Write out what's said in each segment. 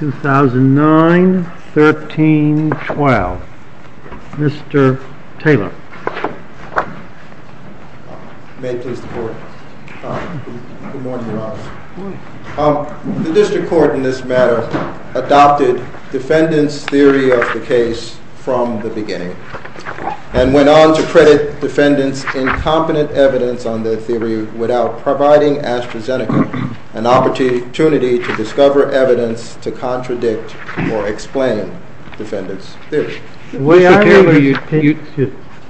2009, 13, 12. Mr. Taylor. May it please the Court. Good morning, Your Honor. The District Court in this matter adopted defendants' theory of the case from the beginning and went on to credit defendants' incompetent evidence on their theory without any evidence. Without providing Astrazeneca an opportunity to discover evidence to contradict or explain defendants' theory.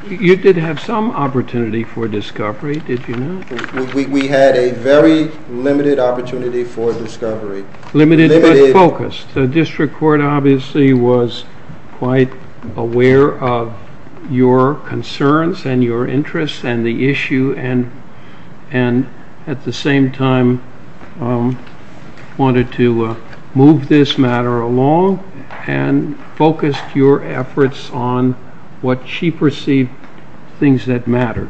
You did have some opportunity for discovery, did you not? We had a very limited opportunity for discovery. Limited but focused. The District Court obviously was quite aware of your concerns and your interests and the issue and at the same time wanted to move this matter along and focused your efforts on what she perceived things that mattered.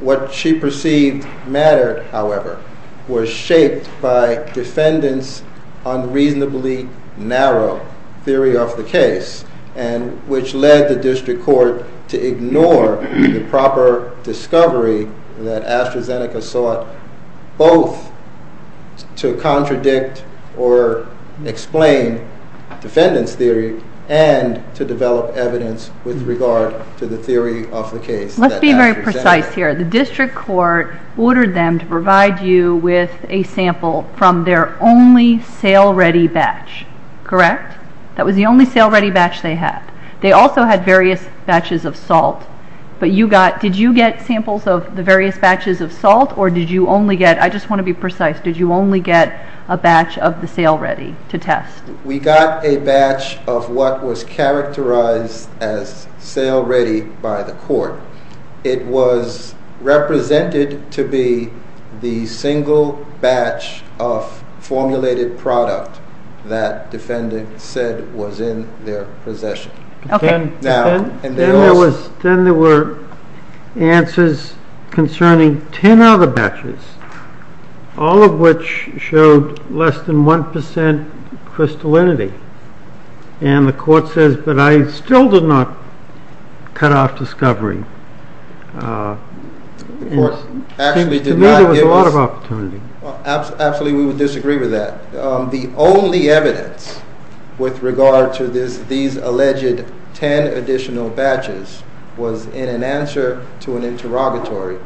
What she perceived mattered, however, was shaped by defendants' unreasonably narrow theory of the case and which led the District Court to ignore the proper discovery that Astrazeneca sought both to contradict or explain defendants' theory and to develop evidence with regard to the theory of the case. Let's be very precise here. The District Court ordered them to provide you with a sample from their only sale ready batch, correct? That was the only sale ready batch they had. They also had various batches of salt but did you get samples of the various batches of salt or did you only get, I just want to be precise, did you only get a batch of the sale ready to test? We got a batch of what was characterized as sale ready by the Court. It was represented to be the single batch of formulated product that defendants said was in their possession. Then there were answers concerning 10 other batches, all of which showed less than 1% crystallinity and the Court says, but I still did not cut off discovery. To me there was a lot of opportunity. Actually we would disagree with that. The only evidence with regard to these alleged 10 additional batches was in an answer to an interrogatory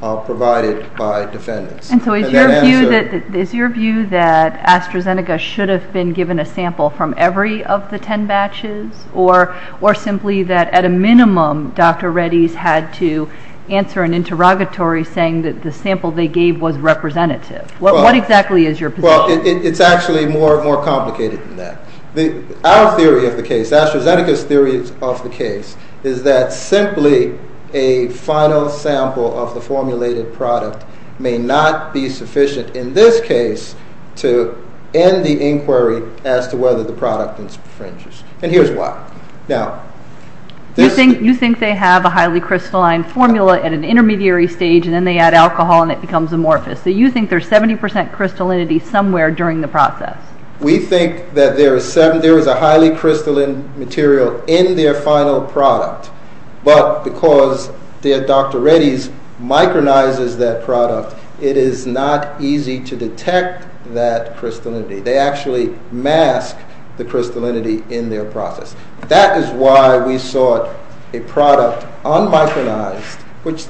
provided by defendants. Is your view that AstraZeneca should have been given a sample from every of the 10 batches or simply that at a minimum Dr. Reddy's had to answer an interrogatory saying that the sample they gave was representative? What exactly is your position? It's actually more complicated than that. Our theory of the case, AstraZeneca's theory of the case, is that simply a final sample of the formulated product may not be sufficient in this case to end the inquiry as to whether the product infringes. Here's why. You think they have a highly crystalline formula at an intermediary stage and then they add alcohol and it becomes amorphous. You think there's 70% crystallinity somewhere during the process? We think that there is a highly crystalline material in their final product but because Dr. Reddy's micronizes that product it is not easy to detect that crystallinity. They actually mask the crystallinity in their process. That is why we sought a product un-micronized which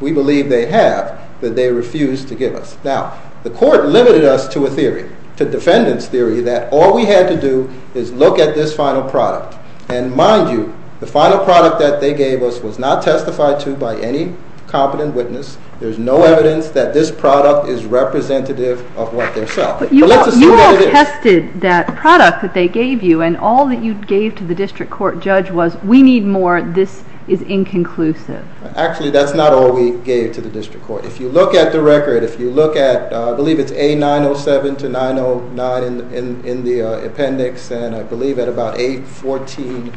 we believe they have that they refuse to give us. Now, the court limited us to a theory, to defendant's theory that all we had to do is look at this final product and mind you the final product that they gave us was not testified to by any competent witness. There's no evidence that this product is representative of what they sell. You all tested that product that they gave you and all that you gave to the district court judge was we need more, this is inconclusive. Actually, that's not all we gave to the district court. If you look at the record, if you look at, I believe it's A907 to 909 in the appendix and I believe at about A1418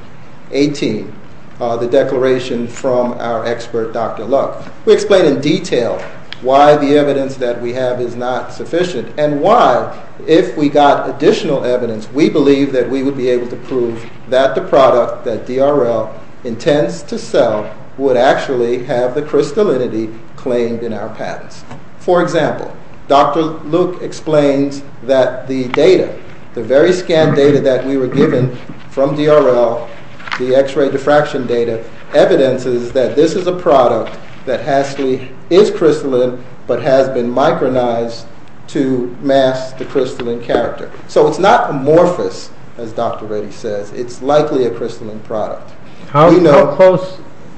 the declaration from our expert Dr. Luck. We explain in detail why the evidence that we have is not sufficient and why if we got additional evidence we believe that we would be able to prove that the product that DRL intends to sell would actually have the crystallinity claimed in our patents. For example, Dr. Luck explains that the data, the very scanned data that we were given from DRL, the x-ray diffraction data, evidences that this is a product that actually is crystalline but has been micronized to mask the crystalline character. It's not amorphous, as Dr. Reddy says, it's likely a crystalline product. How close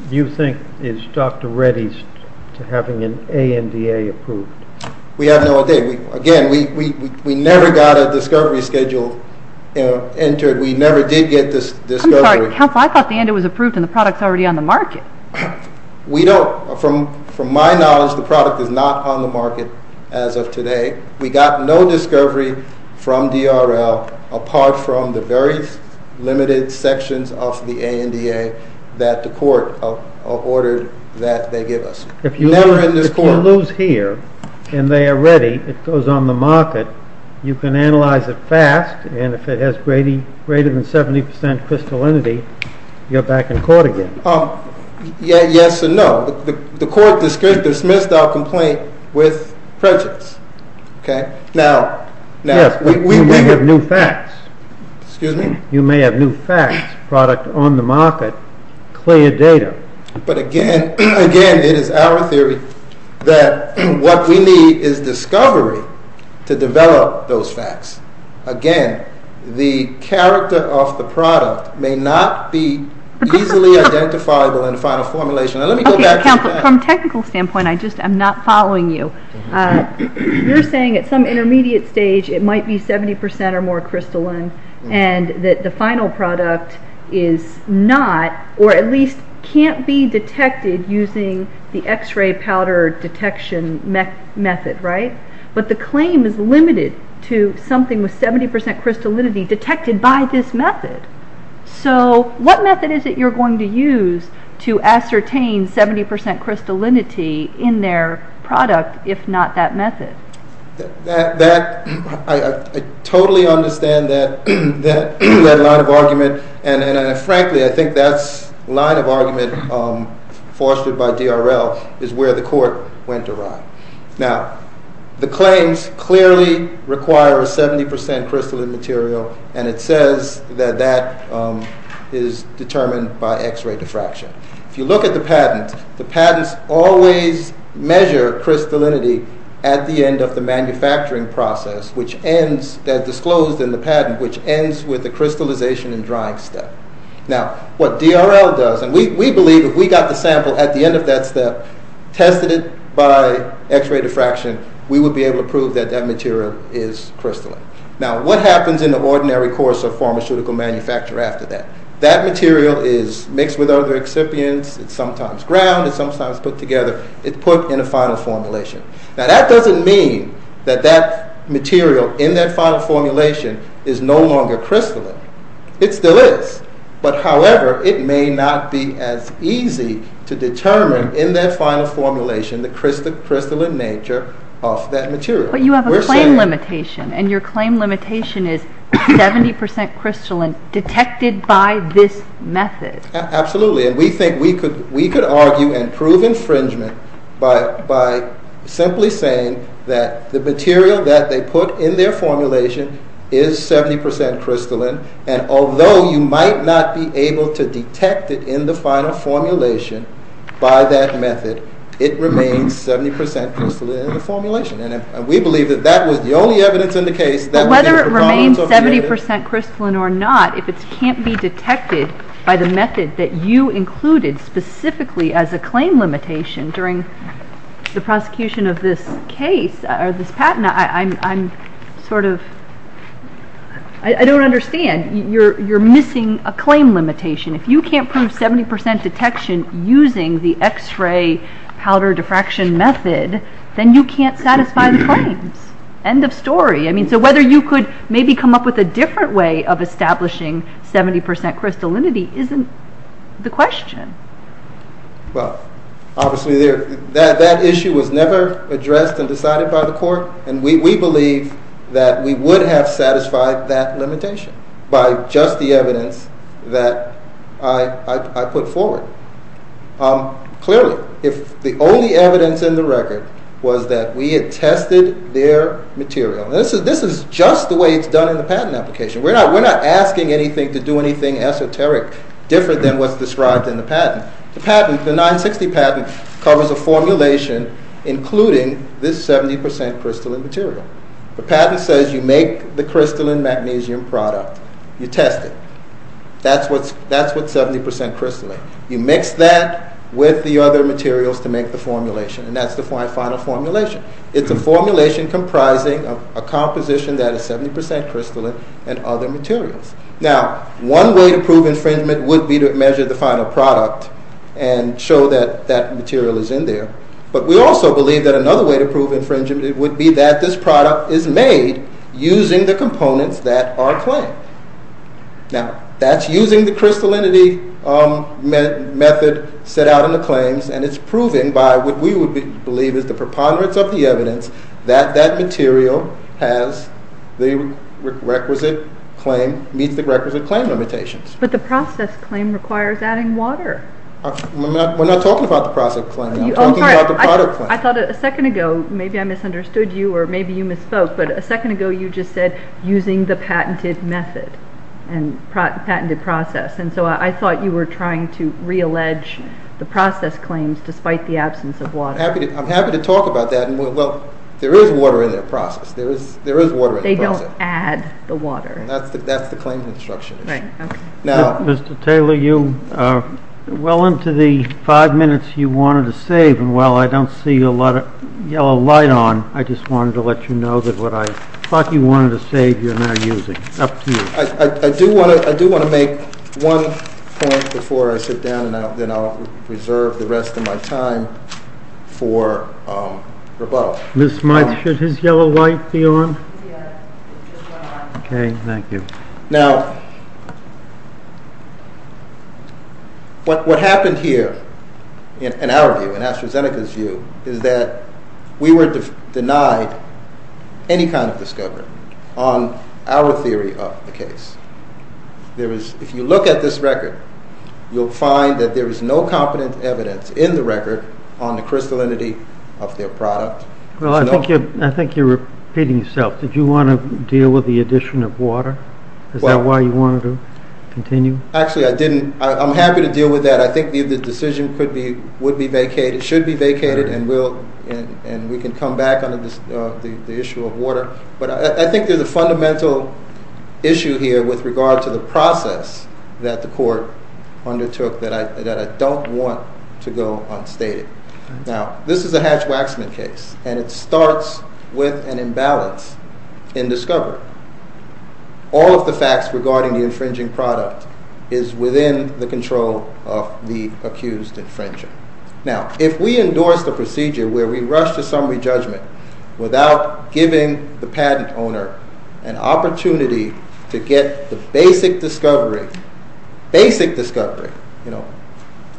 do you think is Dr. Reddy's to having an ANDA approved? We have no idea. Again, we never got a discovery schedule entered. We never did get this discovery. I'm sorry, counsel, I thought the ANDA was approved and the product's already on the market. We don't, from my knowledge, the product is not on the market as of today. We got no discovery from DRL apart from the very limited sections of the ANDA that the court ordered that they give us. If you lose here and they are ready, it goes on the market, you can analyze it fast and if it has greater than 70% crystallinity, you're back in court again. Yes or no? The court dismissed our complaint with prejudice. Yes, we may have new facts. You may have new facts, product on the market, clear data. But again, it is our theory that what we need is discovery to develop those facts. Again, the character of the product may not be easily identifiable in final formulation. From a technical standpoint, I'm not following you. You're saying at some intermediate stage it might be 70% or more crystalline and that the final product is not or at least can't be detected using the x-ray powder detection method. But the claim is limited to something with 70% crystallinity detected by this method. What method is it you're going to use to ascertain 70% crystallinity in their product if not that method? I totally understand that line of argument and frankly I think that's line of argument fostered by DRL is where the court went awry. Now, the claims clearly require a 70% crystalline material and it says that that is determined by x-ray diffraction. If you look at the patent, the patents always measure crystallinity at the end of the manufacturing process which ends, as disclosed in the patent, which ends with the crystallization and drying step. Now, what DRL does, and we believe if we got the sample at the end of that step, tested it by x-ray diffraction, we would be able to prove that that material is crystalline. Now, what happens in the ordinary course of pharmaceutical manufacture after that? That material is crystalline. Now, that doesn't mean that that material in that final formulation is no longer crystalline. It still is, but however, it may not be as easy to determine in that final formulation the crystalline nature of that material. But you have a claim limitation and your claim limitation is 70% crystalline detected by this method. Absolutely, and we think we could argue and prove infringement by simply saying that the material that they put in their formulation is 70% crystalline and although you might not be able to detect it in the final formulation by that method, it remains 70% crystalline in the formulation. And we believe that that was the only evidence in the case that Whether it remains 70% crystalline or not, if it can't be detected by the method that you included specifically as a claim limitation during the prosecution of this case or this patent, I'm sort of I don't understand. You're missing a claim limitation. If you can't prove 70% detection using the x-ray powder diffraction method, then you can't satisfy the claims. End of story. So whether you could maybe come up with a different way of establishing 70% crystallinity isn't the question. Well, obviously that issue was never addressed and decided by the court and we believe that we would have satisfied that limitation by just the evidence that I put forward. Clearly, if the only evidence in the record was that we had tested their material, this is just the way it's done in the patent application. We're not asking anything to do anything esoteric different than what's described in the patent. The 960 patent covers a formulation including this 70% crystalline material. The patent says you make the crystalline magnesium product. You test it. That's what 70% crystalline. You mix that with the other materials to make the formulation and that's the final formulation. It's a formulation comprising a composition that is 70% crystalline and other materials. Now, one way to prove infringement would be to measure the final product and show that that material is in there, but we also believe that another way to prove infringement is to use the crystallinity method set out in the claims and it's proven by what we would believe is the preponderance of the evidence that that material has the requisite claim, meets the requisite claim limitations. But the process claim requires adding water. We're not talking about the process claim. I'm talking about the product claim. I thought a second ago, maybe I misunderstood you or maybe you misspoke, but a second ago you just said using the patented method and patented process and so I thought you were trying to reallege the process claims despite the absence of water. I'm happy to talk about that and well, there is water in the process. There is water in the process. They don't add the water. That's the claim construction. Mr. Taylor, you wanted to save and while I don't see a lot of yellow light on, I just wanted to let you know that what I thought you wanted to save, you're not using. Up to you. I do want to make one point before I sit down and then I'll reserve the rest of my time for rebuttal. Ms. Smith, should his yellow light be on? Yes. Okay, thank you. Now, what happened here in our view, in AstraZeneca's view, is that we were denied any kind of discovery on our theory of the case. If you look at this record, you'll find that there is no competent evidence in the record on the crystallinity of their product. Well, I think you're repeating yourself. Did you want to deal with the addition of water? Is that why you wanted to continue? Actually, I didn't. I'm happy to deal with that. I think the decision should be vacated and we can come back on the issue of water. But I think there's a fundamental issue here with regard to the process that the court undertook that I don't want to go unstated. Now, this is a Hatch-Waxman case and it starts with an imbalance in discovery. All of the facts regarding the infringing product is within the control of the accused infringer. Now, if we endorse the procedure where we rush to summary judgment without giving the patent owner an opportunity to get the basic discovery,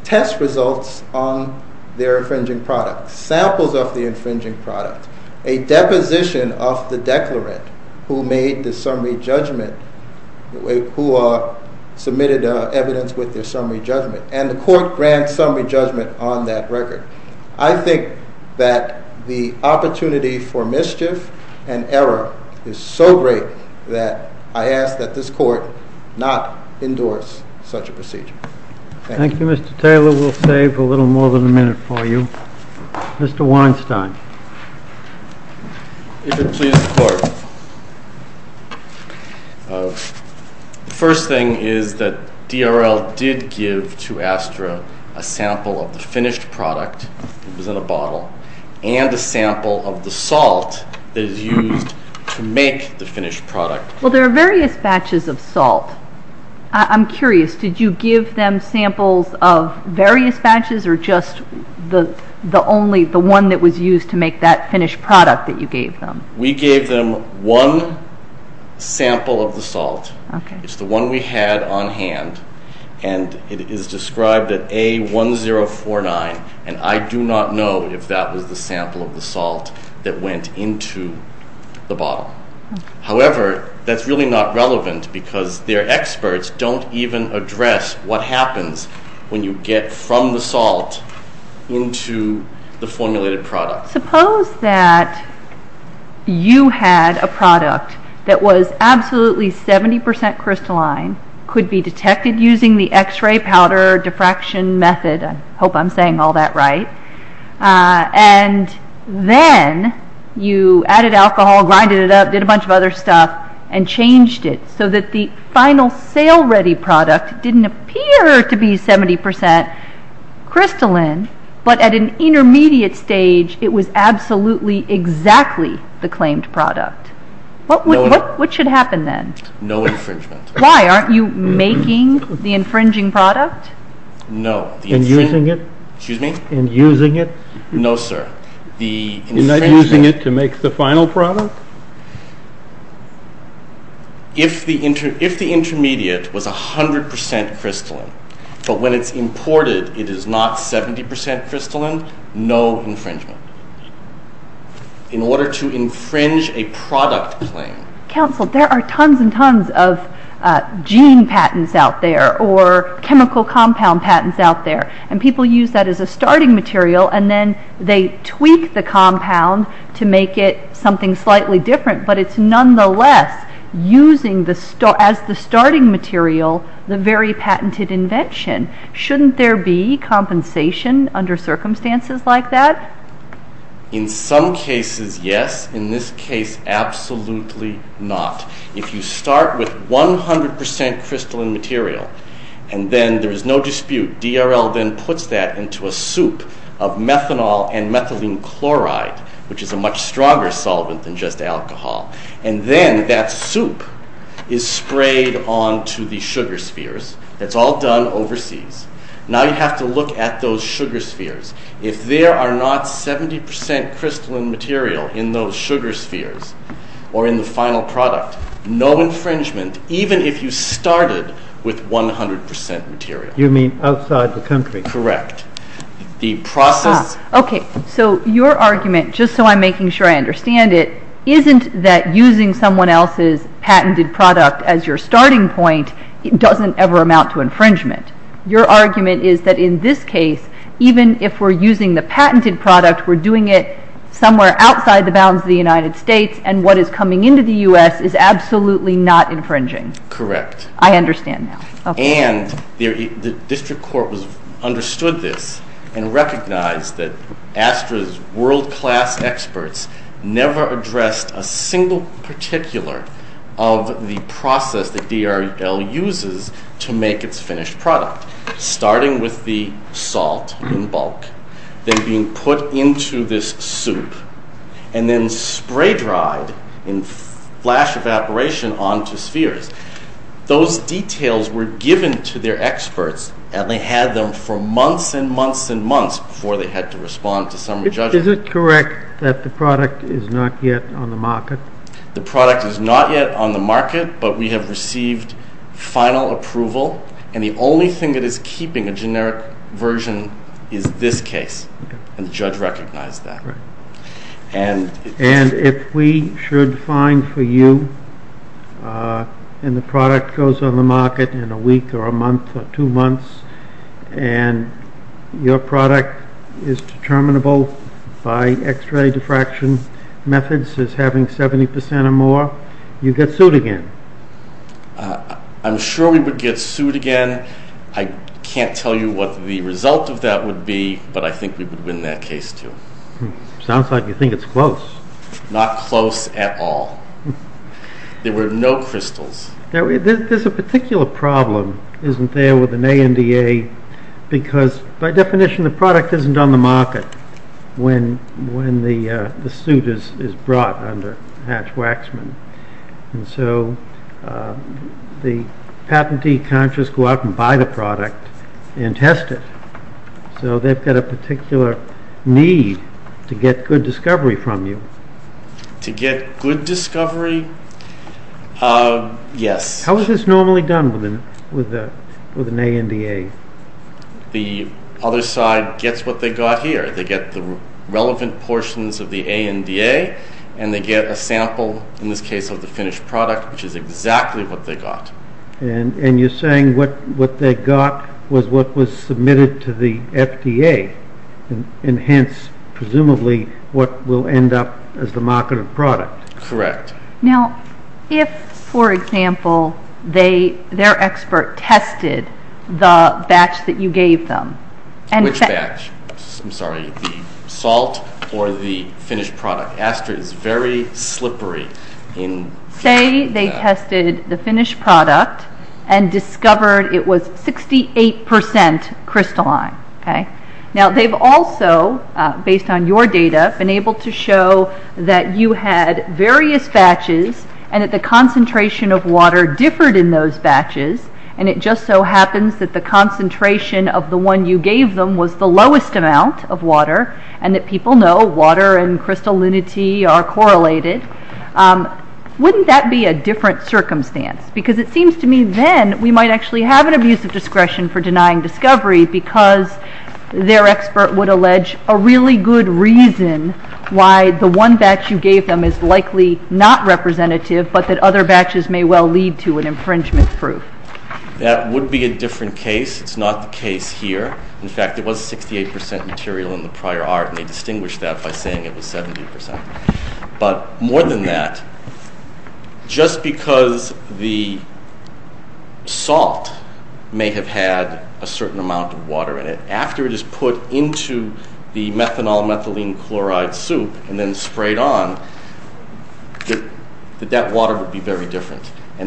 test results on their infringing product, samples of the infringing product, a deposition of the declarant who made the summary judgment, who submitted evidence with their summary judgment, and the court grants summary judgment on that record. I think that the opportunity for mischief and error is so great that I ask that this court not endorse such a procedure. Thank you. Thank you, Mr. Taylor. We'll save a little more than a minute for you. Mr. Weinstein. If it pleases the court, the first thing is that DRL did give to Astra a sample of the finished product that was in a bottle and a sample of the salt that is used to make the finished product. Well, there are various batches of salt. I'm curious, did you give them samples of various batches or just the one that was used to make that finished product that you gave them? We gave them one sample of the salt. It's the one we had on hand and it is described at A1049 and I do not know if that was the sample of the salt that went into the bottle. However, that's really not relevant because their experts don't even address what happens when you get from the salt into the formulated product. Suppose that you had a product that was absolutely 70% crystalline, could be detected using the x-ray powder diffraction method. I hope I'm saying all that right. And then you added alcohol, grinded it up, did a bunch of other stuff and changed it so that the final sale ready product didn't appear to be 70% crystalline, but at an intermediate stage, it was absolutely exactly the claimed product. What should happen then? No infringement. Why? Aren't you making the infringing product? No. And using it? No, sir. Isn't that using it to make the final product? If the intermediate was 100% crystalline, but when it's imported, it is not 70% crystalline, no infringement. In order to infringe a product claim. Counsel, there are tons and tons of gene patents out there or chemical compound patents out there and people use that as a starting material and then they tweak the compound to make it something slightly different, but it's nonetheless using as the starting material, the very patented invention. Shouldn't there be compensation under circumstances like that? In some cases, yes. In this case, absolutely not. If you start with 100% crystalline material and then there is no dispute, DRL then puts that into a soup of methanol and methylene chloride, which is a much stronger solvent than just alcohol. And then that soup is sprayed onto the sugar spheres. That's all done overseas. Now you have to look at those sugar spheres. If there are not 70% crystalline material in those sugar spheres or in the final product, no infringement, even if you started with 100% material. You mean outside the country? Correct. The process... Okay, so your argument, just so I'm making sure I understand it, isn't that using someone else's patented product as your starting point doesn't ever amount to infringement. Your argument is that in this case, even if we're using the patented product, we're doing it somewhere outside the bounds of the United States and what is coming into the U.S. is absolutely not infringing. Correct. I understand now. And the district court understood this and recognized that ASTRA's world-class experts never addressed a single particular of the process that DRL uses to make its finished product, starting with the salt in bulk, then being put into this soup and then spray dried in flash evaporation onto spheres. Those details were given to their experts and they had them for months and months and months before they had to respond to summary judgment. Is it correct that the product is not yet on the market? The product is not yet on the market, but we have received final approval and the only thing that is keeping a generic version is this case, and the judge recognized that. And if we should find for you and the product goes on the market in a week or a month or two months and your product is determinable by X-ray diffraction methods as having 70% or more, you get sued again. I'm sure we would get sued again. I can't tell you what the result of that would be, but I think we would win that case too. Sounds like you think it's close. Not close at all. There were no crystals. There's a particular problem, isn't there, with an ANDA because by definition the product isn't on the market when the suit is brought under Hatch-Waxman. And so the patentee can't just go out and buy the product and test it. So they've got a particular need to get good discovery from you. To get good discovery? Yes. How is this normally done with an ANDA? The other side gets what they got here. They get the relevant portions of the ANDA and they get a sample, in this case of the finished product, which is exactly what they got. And you're saying what they got was what was submitted to the FDA and hence presumably what will end up as the marketed product. Correct. Now if, for example, their expert tested the batch that you gave them. Which batch? I'm sorry, the salt or the finished product? Aster is very slippery. Say they tested the finished product and discovered it was 68% crystalline. Now they've also, based on your data, been able to show that you had various batches and that the concentration of water differed in those batches and it just so happens that the concentration of the one you gave them was the lowest amount of water and that people know water and crystallinity are correlated. Wouldn't that be a different circumstance? Because it seems to me then we might actually have an abuse of discretion for denying discovery because their expert would allege a really good reason why the one batch you gave them is likely not representative but that other batches may well lead to an infringement proof. That would be a different case. It's not the case here. In fact, it was 68% material in the prior art and they distinguished that by saying it was 70%. But more than that, just because the salt may have had a certain amount of water in it, after it is put into the methanol methylene chloride soup and then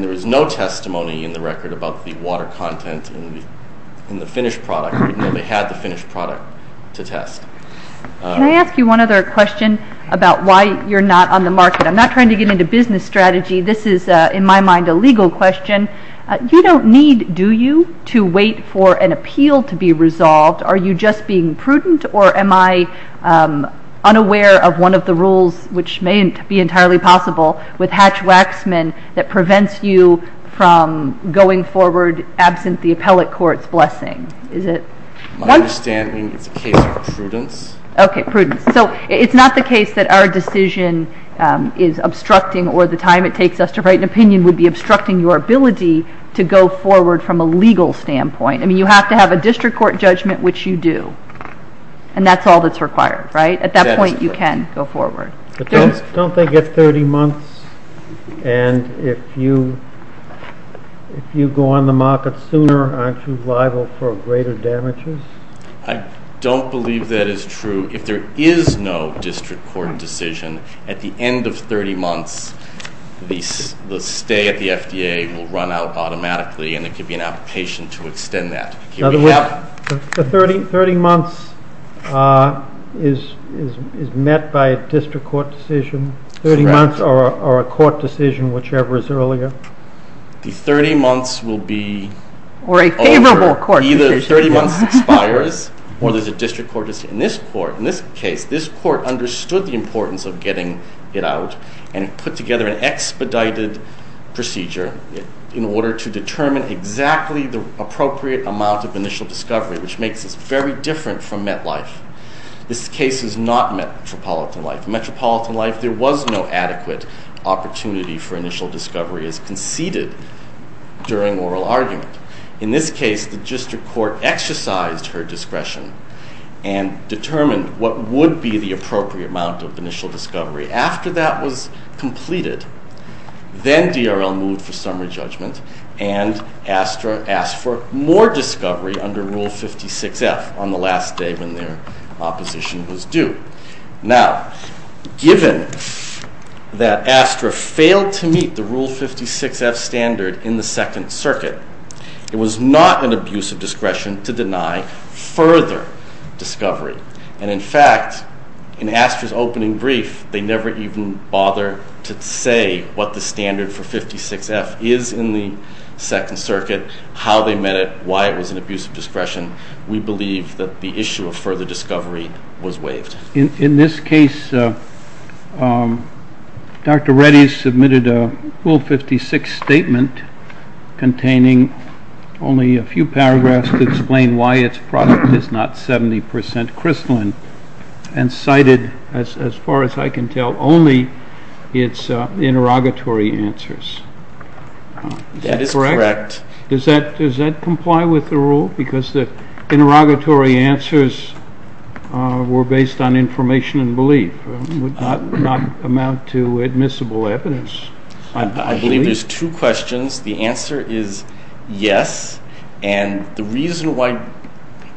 there was no testimony in the record about the water content in the finished product even though they had the finished product to test. Can I ask you one other question about why you're not on the market? I'm not trying to get into business strategy. This is, in my mind, a legal question. You don't need, do you, to wait for an appeal to be resolved? Are you just being prudent or am I unaware of one of the rules, which may be entirely possible, with Hatch-Waxman that prevents you from going forward absent the appellate court's blessing? My understanding is it's a case of prudence. Okay, prudence. So it's not the case that our decision is obstructing or the time it takes us to write an opinion would be obstructing your ability to go forward from a legal standpoint. I mean, you have to have a district court judgment, which you do. And that's all that's required, right? At that point, you can go forward. Don't they get 30 months? And if you go on the market sooner, aren't you liable for greater damages? I don't believe that is true. If there is no district court decision, at the end of 30 months, the stay at the FDA will run out automatically and there could be an application to extend that. So 30 months is met by a district court decision, 30 months or a court decision, whichever is earlier? The 30 months will be over. Or a favorable court decision. Either 30 months expires or there's a district court decision. In this case, this court understood the importance of getting it out and put together an expedited procedure in order to determine exactly the appropriate amount of initial discovery, which makes this very different from MetLife. This case is not MetropolitanLife. In MetropolitanLife, there was no adequate opportunity for initial discovery as conceded during oral argument. In this case, the district court exercised her discretion and determined what would be the appropriate amount of initial discovery. After that was completed, then DRL moved for summary judgment and asked for more discovery under Rule 56F on the last day when their opposition was due. Now, given that ASTRA failed to meet the Rule 56F standard in the Second Circuit, it was not an abuse of discretion to deny further discovery. And, in fact, in ASTRA's opening brief, they never even bothered to say what the standard for 56F is in the Second Circuit, how they met it, why it was an abuse of discretion. We believe that the issue of further discovery was waived. In this case, Dr. Reddy submitted a Rule 56 statement containing only a few paragraphs to explain why its product is not 70 percent crystalline and cited, as far as I can tell, only its interrogatory answers. Is that correct? That is correct. Does that comply with the Rule? Because the interrogatory answers were based on information and belief and would not amount to admissible evidence. I believe there's two questions. The answer is yes. And the reason why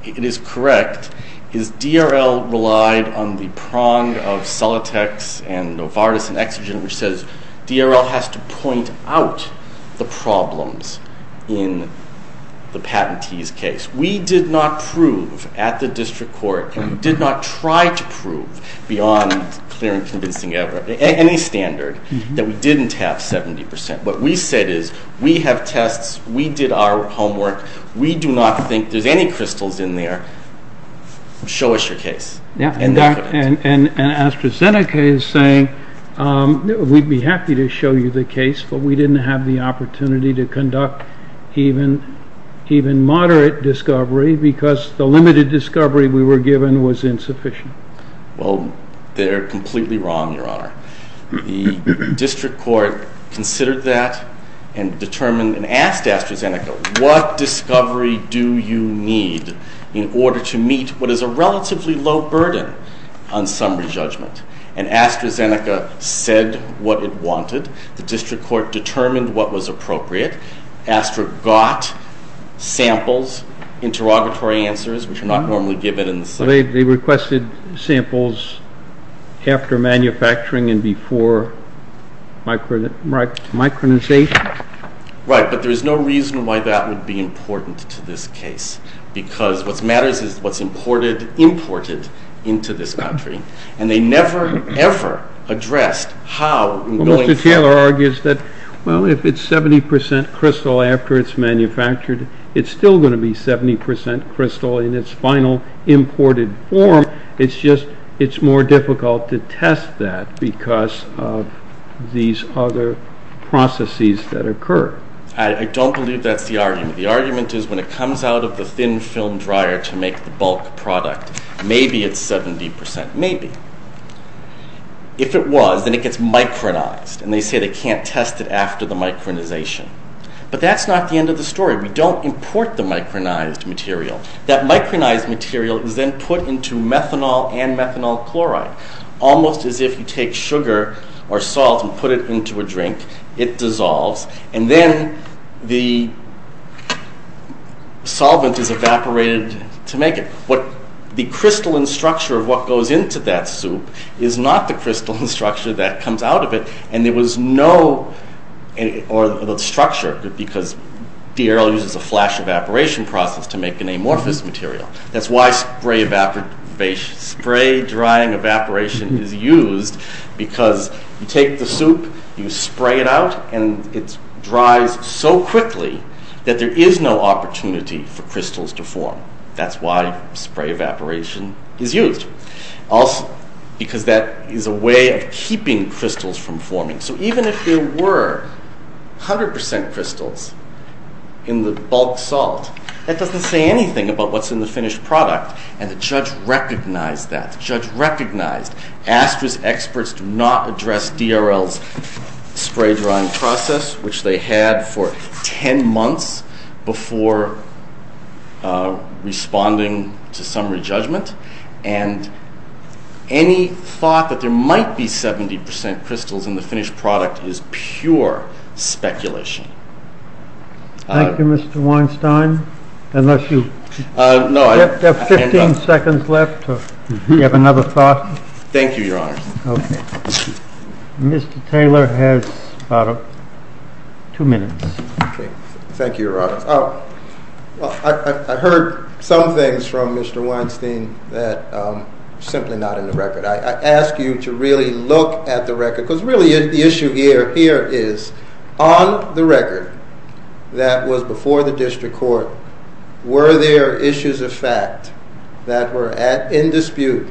it is correct is DRL relied on the prong of Celotex and Novartis and Exogen, which says DRL has to point out the problems in the patentee's case. We did not prove at the district court, and we did not try to prove beyond clear and convincing evidence, any standard, that we didn't have 70 percent. What we said is, we have tests, we did our homework, we do not think there's any crystals in there, show us your case. And AstraZeneca is saying, we'd be happy to show you the case, but we didn't have the opportunity to conduct even moderate discovery because the limited discovery we were given was insufficient. Well, they're completely wrong, Your Honor. The district court considered that and determined and asked AstraZeneca, what discovery do you need in order to meet what is a relatively low burden on summary judgment? And AstraZeneca said what it wanted. The district court determined what was appropriate. Astra got samples, interrogatory answers, which are not normally given in the samples after manufacturing and before micronization. Right, but there's no reason why that would be important to this case, because what matters is what's imported into this country. And they never, ever addressed how and going forward. Well, Mr. Taylor argues that, well, if it's 70 percent crystal after it's manufactured, it's still going to be 70 percent crystal in its final imported form, it's just it's more difficult to test that because of these other processes that occur. I don't believe that's the argument. The argument is when it comes out of the thin film dryer to make the bulk product, maybe it's 70 percent, maybe. If it was, then it gets micronized, and they say they can't test it after the micronization. But that's not the end of the story. We don't import the micronized material. That micronized material is then put into methanol and methanol chloride, almost as if you take sugar or salt and put it into a drink, it dissolves, and then the solvent is evaporated to make it. What the crystalline structure of what goes into that soup is not the crystalline structure that comes out of it, and there was no structure, because DRL uses a flash evaporation process to make an amorphous material. That's why spray drying evaporation is used, because you take the soup, you spray it out, and it dries so quickly that there is no opportunity for crystals to form. That's why spray evaporation is used. Also, because that is a way of keeping crystals from forming. So even if there were 100 percent crystals in the bulk salt, that doesn't say anything about what's in the finished product, and the judge recognized that. The judge recognized ASTRA's experts do not address DRL's spray drying process, which they had for 10 months before responding to summary judgment. Any thought that there might be 70 percent crystals in the finished product is pure speculation. Thank you, Mr. Weinstein. Unless you have 15 seconds left, do you have another thought? Thank you, Your Honor. Mr. Taylor has about two minutes. Thank you, Your Honor. I heard some things from Mr. Weinstein that are simply not in the record. I ask you to really look at the record, because really the issue here is, on the record that was before the district court, were there issues of fact that were in dispute,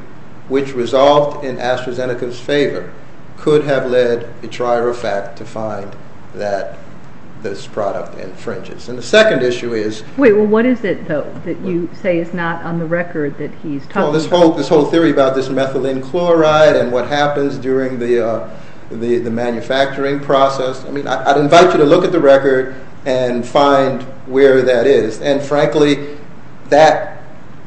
which resolved in AstraZeneca's favor, could have led a trier of fact to find that this product infringes. What is it, though, that you say is not on the record that he's talking about? This whole theory about this methylene chloride and what happens during the manufacturing process. I'd invite you to look at the record and find where that is. Frankly, that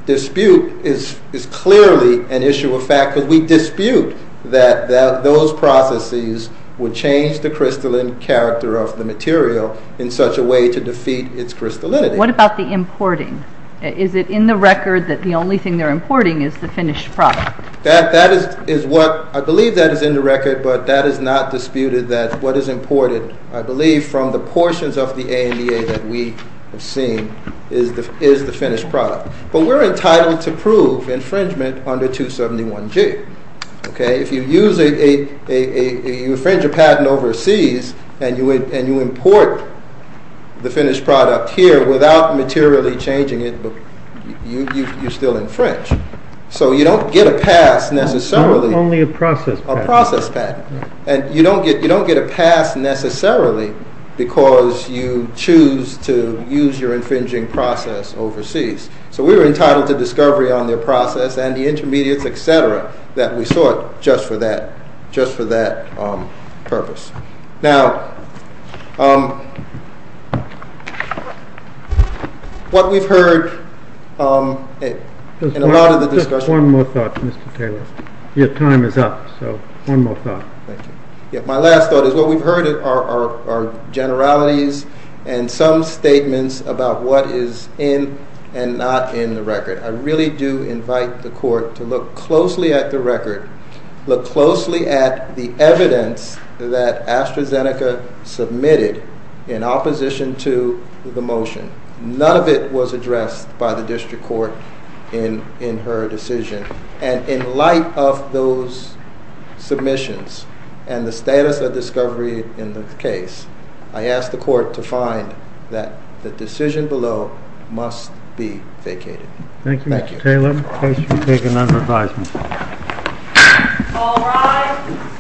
dispute is clearly an issue of fact, because we dispute that those processes would change the crystalline character of the material in such a way to defeat its crystallinity. What about the importing? Is it in the record that the only thing they're importing is the finished product? That is what I believe that is in the record, but that is not disputed that what is imported, I believe from the portions of the ANDA that we have seen, is the finished product. But we're entitled to prove infringement under 271G. If you infringe a patent overseas and you import the finished product here without materially changing it, you still infringe. So you don't get a pass necessarily. Only a process patent. A process patent. And you don't get a pass necessarily because you choose to use your infringing process overseas. So we were entitled to discovery on their process, and the intermediates, et cetera, that we sought just for that purpose. Now, what we've heard in a lot of the discussions... Just one more thought, Mr. Taylor. Your time is up, so one more thought. Thank you. My last thought is what we've heard are generalities and some statements about what is in and not in the record. I really do invite the court to look closely at the record, look closely at the evidence that AstraZeneca submitted in opposition to the motion. None of it was addressed by the district court in her decision. And in light of those submissions and the status of discovery in the case, I ask the court to find that the decision below must be vacated. Thank you. Thank you, Mr. Taylor. Let me place you to take another advisement. All rise.